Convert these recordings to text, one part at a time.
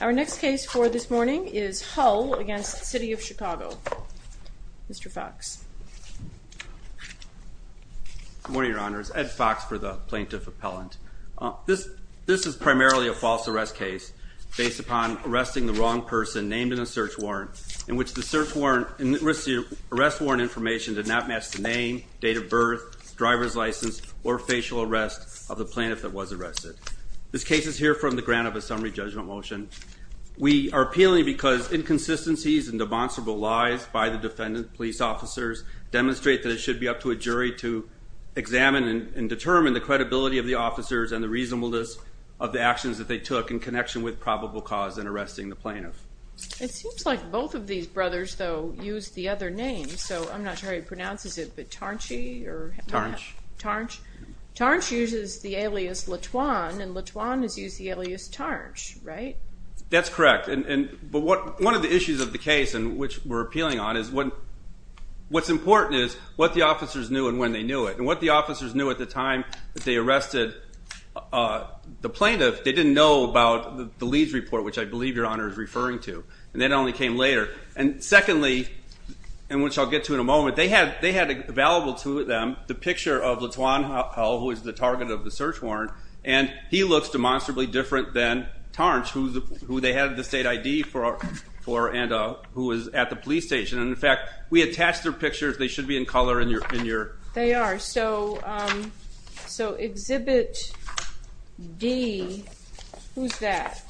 Our next case for this morning is Hull v. City of Chicago. Mr. Foxx. Good morning, Your Honors. Ed Foxx for the Plaintiff Appellant. This is primarily a false arrest case based upon arresting the wrong person named in a search warrant in which the arrest warrant information did not match the name, date of birth, driver's license, or facial arrest of the plaintiff that was arrested. This case is here from the grant of a summary judgment motion. We are appealing because inconsistencies and demonstrable lies by the defendant police officers demonstrate that it should be up to a jury to examine and determine the credibility of the officers and the reasonableness of the actions that they took in connection with probable cause in arresting the plaintiff. It seems like both of these brothers, though, use the other name. So I'm not sure how you pronounce it, but Tarnche? Tarnche. Tarnche uses the alias LaTuan, and LaTuan has used the alias Tarnche, right? That's correct, but one of the issues of the case in which we're appealing on is what's important is what the officers knew and when they knew it. And what the officers knew at the time that they arrested the plaintiff, they didn't know about the Leeds report, which I believe Your Honor is referring to, and that only came later. And secondly, and which I'll get to in a moment, they had available to them the picture of LaTuan, who was the target of the search warrant, and he looks demonstrably different than Tarnche, who they had the state ID for and who was at the police station. And in fact, we attached their pictures. They should be in color in your... They are. So Exhibit D, who's that?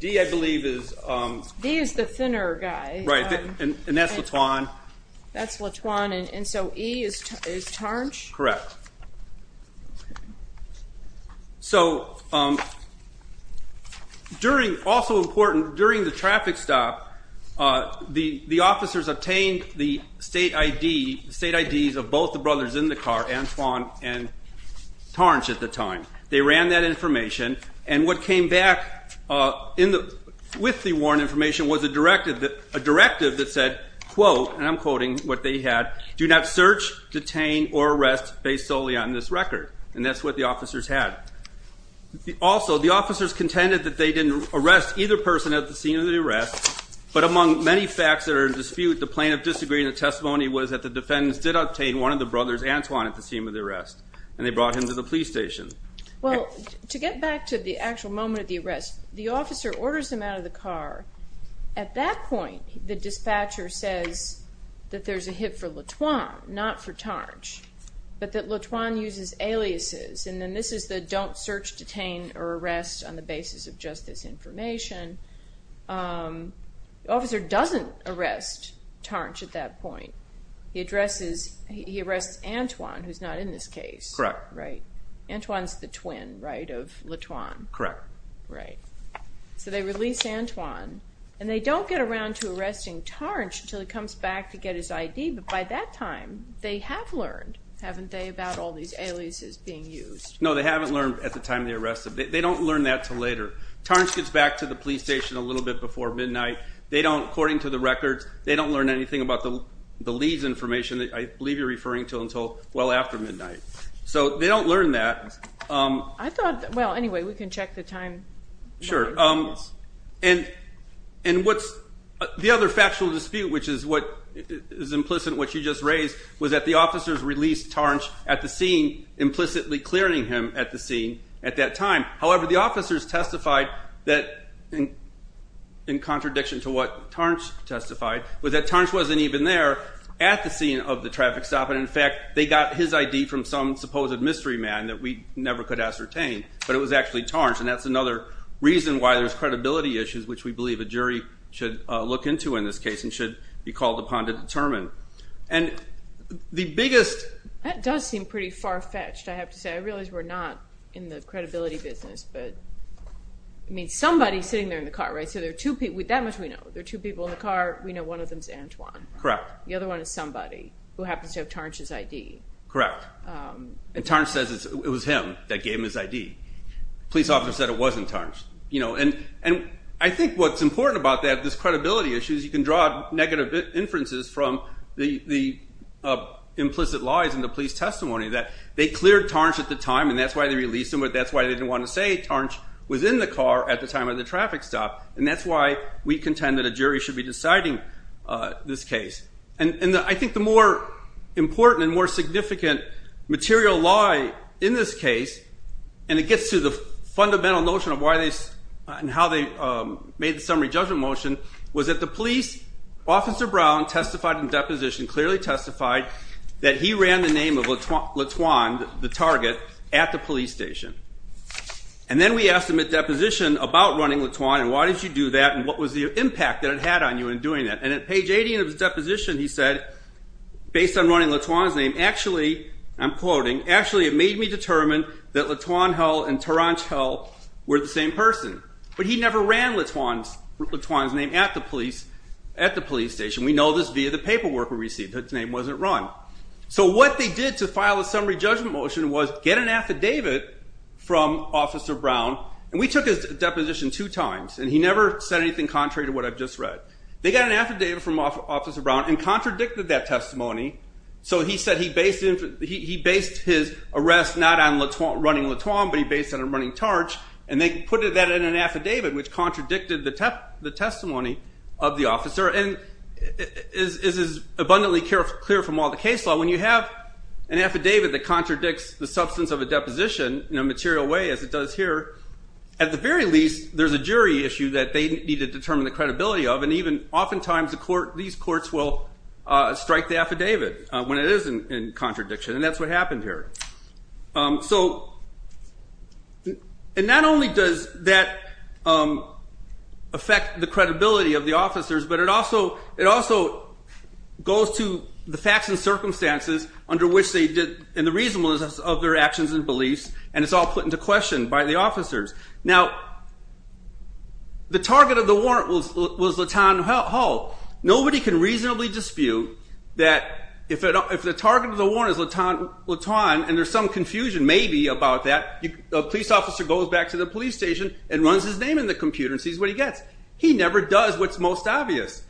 D, I believe, is... D is the thinner guy. Right, and that's LaTuan. That's LaTuan, and so E is Tarnche? Correct. So also important, during the traffic stop, the officers obtained the state IDs of both the brothers in the car, Antoine and Tarnche, at the time. They ran that information, and what came back with the warrant information was a directive that said, quote, and I'm quoting what they had, do not search, detain, or arrest based solely on this record. And that's what the officers had. Also, the officers contended that they didn't arrest either person at the scene of the arrest, but among many facts that are in dispute, the plaintiff disagreed. The testimony was that the defendants did obtain one of the brothers, Antoine, at the scene of the arrest, and they brought him to the police station. Well, to get back to the actual moment of the arrest, the officer orders him out of the car. At that point, the dispatcher says that there's a hit for LaTuan, not for Tarnche, but that LaTuan uses aliases, and then this is the don't search, detain, or arrest on the basis of just this information. The officer doesn't arrest Tarnche at that point. He arrests Antoine, who's not in this case. Correct. Right. Antoine's the twin, right, of LaTuan. Correct. Right. So they release Antoine, and they don't get around to arresting Tarnche until he comes back to get his ID, but by that time, they have learned, haven't they, about all these aliases being used? No, they haven't learned at the time they arrested. They don't learn that until later. Tarnche gets back to the police station a little bit before midnight. They don't, according to the records, they don't learn anything about the Lee's information that I believe you're referring to until well after midnight. So they don't learn that. I thought, well, anyway, we can check the time. Sure. And what's the other factual dispute, which is what is implicit, what you just raised, was that the officers released Tarnche at the scene, implicitly clearing him at the scene at that time. However, the officers testified that, in contradiction to what Tarnche testified, was that Tarnche wasn't even there at the scene of the traffic stop, and, in fact, they got his ID from some supposed mystery man that we never could ascertain, but it was actually Tarnche, and that's another reason why there's credibility issues, which we believe a jury should look into in this case and should be called upon to determine. And the biggest ---- That does seem pretty far-fetched, I have to say. I realize we're not in the credibility business, but, I mean, somebody's sitting there in the car, right? So there are two people. That much we know. There are two people in the car. We know one of them is Antoine. Correct. The other one is somebody who happens to have Tarnche's ID. Correct. And Tarnche says it was him that gave him his ID. The police officer said it wasn't Tarnche. And I think what's important about this credibility issue is you can draw negative inferences from the implicit lies in the police testimony that they had at the time, and that's why they released him, but that's why they didn't want to say Tarnche was in the car at the time of the traffic stop. And that's why we contend that a jury should be deciding this case. And I think the more important and more significant material lie in this case, and it gets to the fundamental notion of why they ---- and how they made the summary judgment motion, was that the police officer, Brown, testified in deposition, clearly testified that he ran the name of Latoine, the target, at the police station. And then we asked him at deposition about running Latoine and why did you do that and what was the impact that it had on you in doing that. And at page 80 of his deposition he said, based on running Latoine's name, actually, I'm quoting, actually it made me determine that Latoine Hull and Tarnche Hull were the same person. But he never ran Latoine's name at the police station. We know this via the paperwork we received that his name wasn't run. So what they did to file a summary judgment motion was get an affidavit from Officer Brown. And we took his deposition two times, and he never said anything contrary to what I've just read. They got an affidavit from Officer Brown and contradicted that testimony. So he said he based his arrest not on running Latoine, but he based it on running Tarnche. And they put that in an affidavit, which contradicted the testimony of the officer. And this is abundantly clear from all the case law. When you have an affidavit that contradicts the substance of a deposition in a material way, as it does here, at the very least, there's a jury issue that they need to determine the credibility of. And oftentimes these courts will strike the affidavit when it is in contradiction, and that's what happened here. And not only does that affect the credibility of the officers, but it also goes to the facts and circumstances under which they did and the reasonableness of their actions and beliefs, and it's all put into question by the officers. Now, the target of the warrant was Latoine Hall. Nobody can reasonably dispute that if the target of the warrant is Latoine and there's some confusion, maybe, about that, a police officer goes back to the police station and runs his name in the computer and sees what he gets. He never does what's most obvious.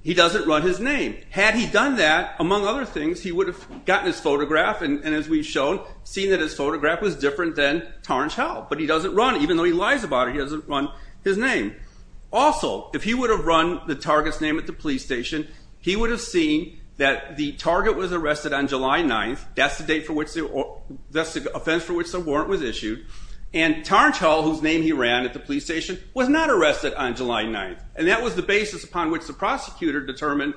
He doesn't run his name. Had he done that, among other things, he would have gotten his photograph and, as we've shown, seen that his photograph was different than Tarnge Hall, but he doesn't run it. Even though he lies about it, he doesn't run his name. Also, if he would have run the target's name at the police station, he would have seen that the target was arrested on July 9th. That's the date for which the offense for which the warrant was issued. And Tarnge Hall, whose name he ran at the police station, was not arrested on July 9th, and that was the basis upon which the prosecutor determined,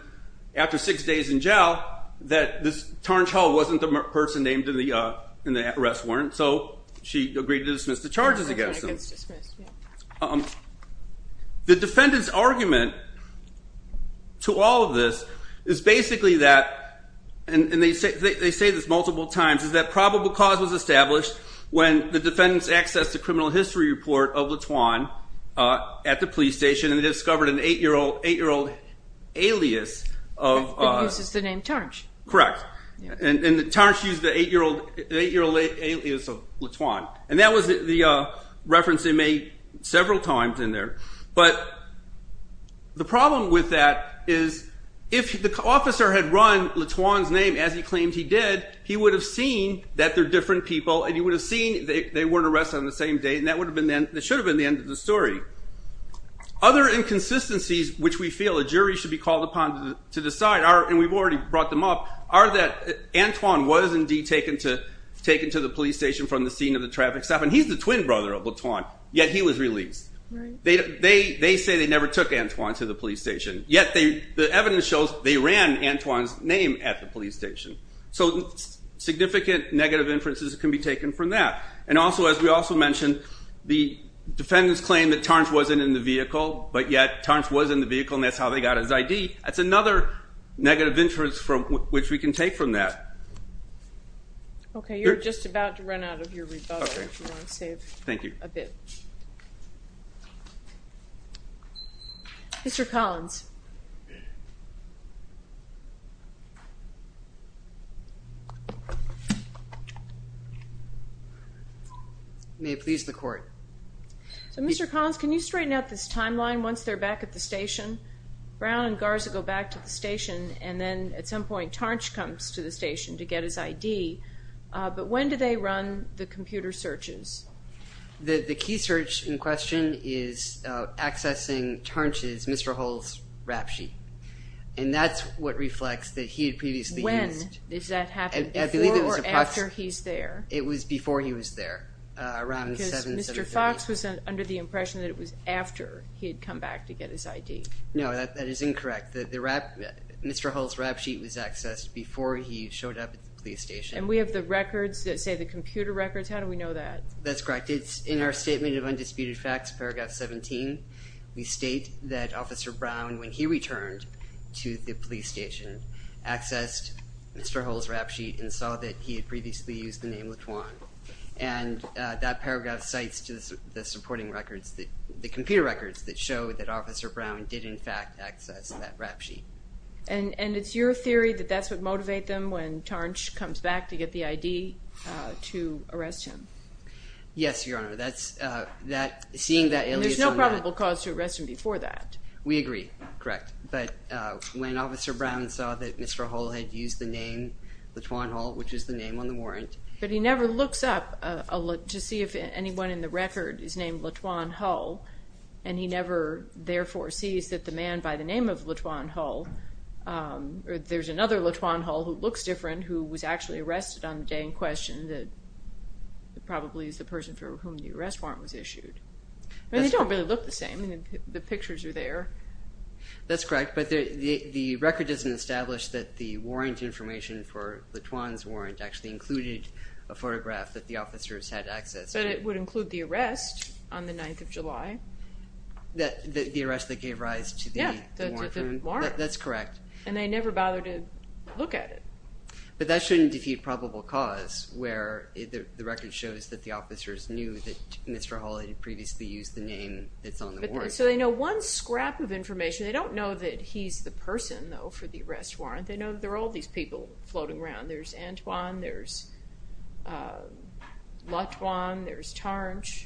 after six days in jail, that Tarnge Hall wasn't the person named in the arrest warrant, so she agreed to dismiss the charges against him. The defendant's argument to all of this is basically that, and they say this multiple times, is that probable cause was established when the defendants accessed the criminal history report of LeTuan at the police station and they discovered an eight-year-old alias. It uses the name Tarnge. Correct. And Tarnge used the eight-year-old alias of LeTuan, and that was the reference they made several times in there. But the problem with that is if the officer had run LeTuan's name as he claimed he did, he would have seen that they're different people and he would have seen they weren't arrested on the same day, and that should have been the end of the story. Other inconsistencies which we feel a jury should be called upon to decide, and we've already brought them up, are that Antoine was indeed taken to the police station from the scene of the traffic stop, and he's the twin brother of LeTuan, yet he was released. They say they never took Antoine to the police station, yet the evidence shows they ran Antoine's name at the police station. So significant negative inferences can be taken from that. And also, as we also mentioned, the defendants claim that Tarnge wasn't in the vehicle, but yet Tarnge was in the vehicle and that's how they got his ID. That's another negative inference which we can take from that. Okay, you're just about to run out of your rebuttal if you want to save a bit. Mr. Collins. May it please the court. So, Mr. Collins, can you straighten out this timeline once they're back at the station? Brown and Garza go back to the station, and then at some point Tarnge comes to the station to get his ID, but when do they run the computer searches? The key search in question is accessing Tarnge's, Mr. Hull's, rap sheet, and that's what reflects that he had previously missed. When does that happen, before or after he's there? It was before he was there, around 7, 7.30. Because Mr. Fox was under the impression that it was after he had come back to get his ID. No, that is incorrect. Mr. Hull's rap sheet was accessed before he showed up at the police station. And we have the records that say the computer records, how do we know that? That's correct. It's in our Statement of Undisputed Facts, Paragraph 17. We state that Officer Brown, when he returned to the police station, accessed Mr. Hull's rap sheet and saw that he had previously used the name LaTuan. And that paragraph cites the supporting records, the computer records that show that Officer Brown did in fact access that rap sheet. And it's your theory that that's what motivated them, when Tarnge comes back to get the ID, to arrest him? Yes, Your Honor. Seeing that alias on that. And there's no probable cause to arrest him before that? We agree. Correct. But when Officer Brown saw that Mr. Hull had used the name LaTuan Hull, which is the name on the warrant. But he never looks up to see if anyone in the record is named LaTuan Hull, and he never, therefore, sees that the man by the name of LaTuan Hull, or there's another LaTuan Hull who looks different, who was actually arrested on the day in question, that probably is the person for whom the arrest warrant was issued. And they don't really look the same. The pictures are there. That's correct. But the record doesn't establish that the warrant information for LaTuan's warrant actually included a photograph that the officers had access to. But it would include the arrest on the 9th of July. The arrest that gave rise to the warrant? Yeah, the warrant. That's correct. And they never bothered to look at it. But that shouldn't defeat probable cause, where the record shows that the officers knew that Mr. Hull had previously used the name that's on the warrant. So they know one scrap of information. They don't know that he's the person, though, for the arrest warrant. They know there are all these people floating around. There's Antoine, there's LaTuan, there's Tarnge.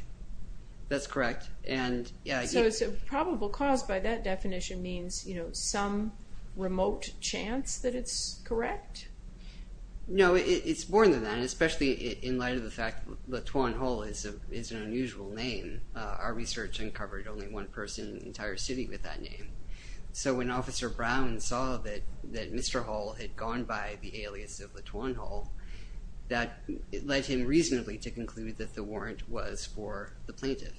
That's correct. So probable cause by that definition means some remote chance that it's correct? No, it's more than that, especially in light of the fact that LaTuan Hull is an unusual name. Our research uncovered only one person in the entire city with that name. So when Officer Brown saw that Mr. Hull had gone by the alias of LaTuan Hull, that led him reasonably to conclude that the warrant was for the plaintiff.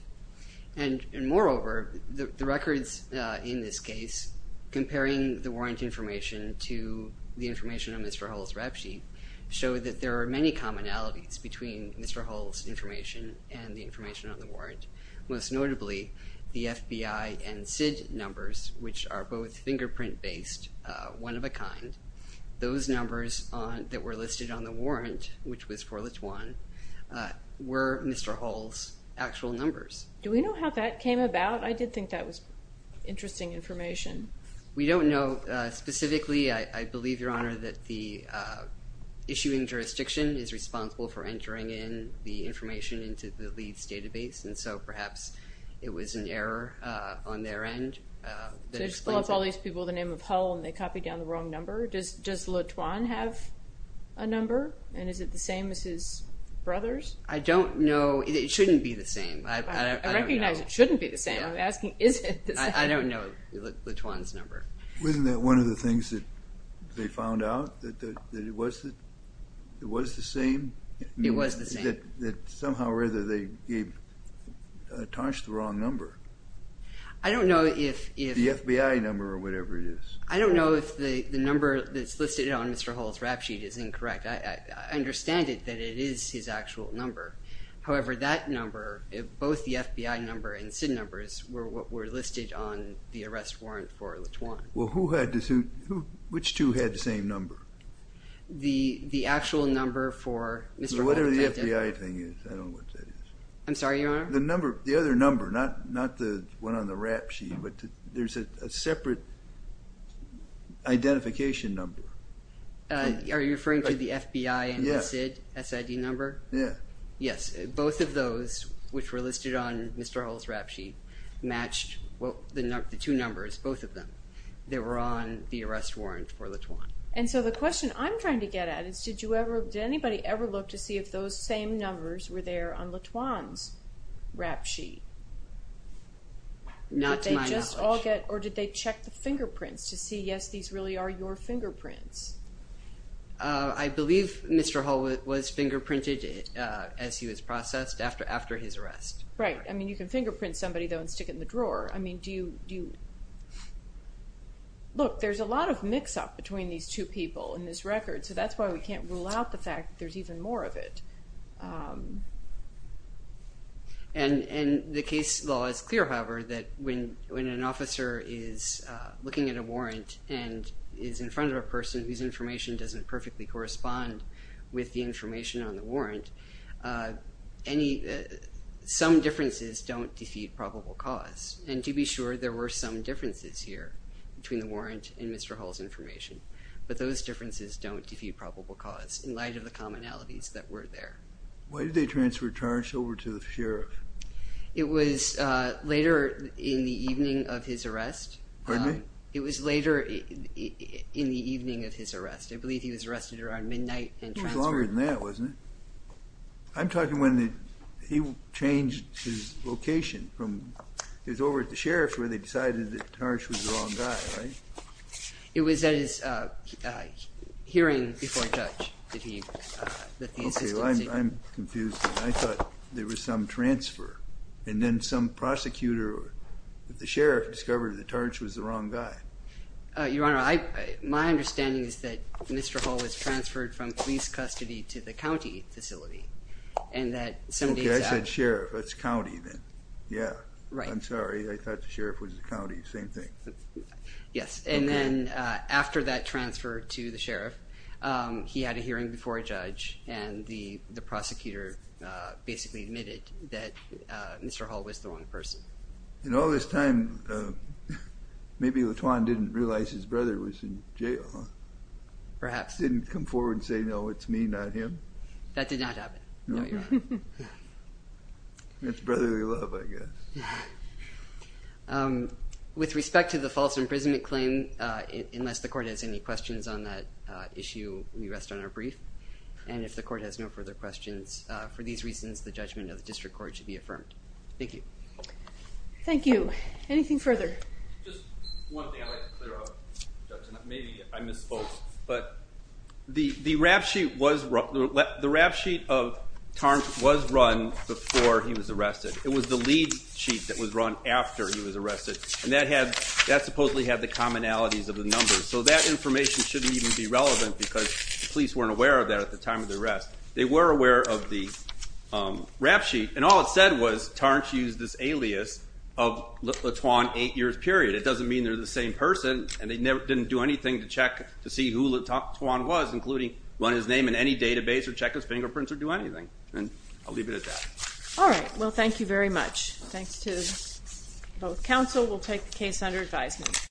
And moreover, the records in this case comparing the warrant information to the information on Mr. Hull's rap sheet show that there are many commonalities between Mr. Hull's information and the information on the warrant, most notably the FBI and SID numbers, which are both fingerprint-based, one of a kind. Those numbers that were listed on the warrant, which was for LaTuan, were Mr. Hull's actual numbers. Do we know how that came about? I did think that was interesting information. We don't know specifically. I believe, Your Honor, that the issuing jurisdiction is responsible for entering in the information into the LEADS database. And so perhaps it was an error on their end that explains it. So they just blow up all these people with the name of Hull and they copy down the wrong number? Does LaTuan have a number? And is it the same as his brother's? I don't know. It shouldn't be the same. I recognize it shouldn't be the same. I'm asking, is it the same? I don't know LaTuan's number. Wasn't that one of the things that they found out, that it was the same? It was the same. I think that somehow or other they tarnished the wrong number. The FBI number or whatever it is. I don't know if the number that's listed on Mr. Hull's rap sheet is incorrect. I understand it, that it is his actual number. However, that number, both the FBI number and SID numbers, were listed on the arrest warrant for LaTuan. Well, who had the suit? Which two had the same number? The actual number for Mr. Hull. Whatever the FBI thing is, I don't know what that is. I'm sorry, Your Honor? The other number, not the one on the rap sheet, but there's a separate identification number. Are you referring to the FBI and SID number? Yes. Both of those, which were listed on Mr. Hull's rap sheet, matched the two numbers, both of them. They were on the arrest warrant for LaTuan. And so the question I'm trying to get at is, did anybody ever look to see if those same numbers were there on LaTuan's rap sheet? Not to my knowledge. Or did they check the fingerprints to see, yes, these really are your fingerprints? I believe Mr. Hull was fingerprinted as he was processed after his arrest. Right. I mean, you can fingerprint somebody, though, and stick it in the drawer. I mean, look, there's a lot of mix-up between these two people in this record, so that's why we can't rule out the fact that there's even more of it. And the case law is clear, however, that when an officer is looking at a warrant and is in front of a person whose information doesn't perfectly correspond with the information on the warrant, some differences don't defeat probable cause. And to be sure, there were some differences here between the warrant and Mr. Hull's information. But those differences don't defeat probable cause in light of the commonalities that were there. Why did they transfer Tarsh over to the sheriff? It was later in the evening of his arrest. Pardon me? It was later in the evening of his arrest. I believe he was arrested around midnight and transferred. It was longer than that, wasn't it? I'm talking when he changed his location. It was over at the sheriff's where they decided that Tarsh was the wrong guy, right? It was at his hearing before judge that he insisted. Okay, well, I'm confused. I thought there was some transfer, and then some prosecutor at the sheriff discovered that Tarsh was the wrong guy. Your Honor, my understanding is that Mr. Hull was transferred from police custody to the county facility. Okay, I said sheriff. That's county then. Yeah. Right. I'm sorry. I thought the sheriff was the county. Same thing. Yes. And then after that transfer to the sheriff, he had a hearing before a judge, and the prosecutor basically admitted that Mr. Hull was the wrong person. In all this time, maybe LaTuan didn't realize his brother was in jail. Perhaps. Didn't come forward and say, no, it's me, not him. That did not happen. No, Your Honor. It's brotherly love, I guess. With respect to the false imprisonment claim, unless the court has any questions on that issue, we rest on our brief. And if the court has no further questions, for these reasons, the judgment of the district court should be affirmed. Thank you. Thank you. Anything further? Just one thing I'd like to clear up, Judge, and maybe I misspoke, but the rap sheet of Tarnt was run before he was arrested. It was the lead sheet that was run after he was arrested, and that supposedly had the commonalities of the numbers, so that information shouldn't even be relevant because the police weren't aware of that at the time of the arrest. They were aware of the rap sheet, and all it said was Tarnt used this alias of LaTuan eight years period. It doesn't mean they're the same person, and they didn't do anything to check to see who LaTuan was, including run his name in any database or check his fingerprints or do anything. And I'll leave it at that. All right. Well, thank you very much. Thanks to both counsel. We'll take the case under advisement.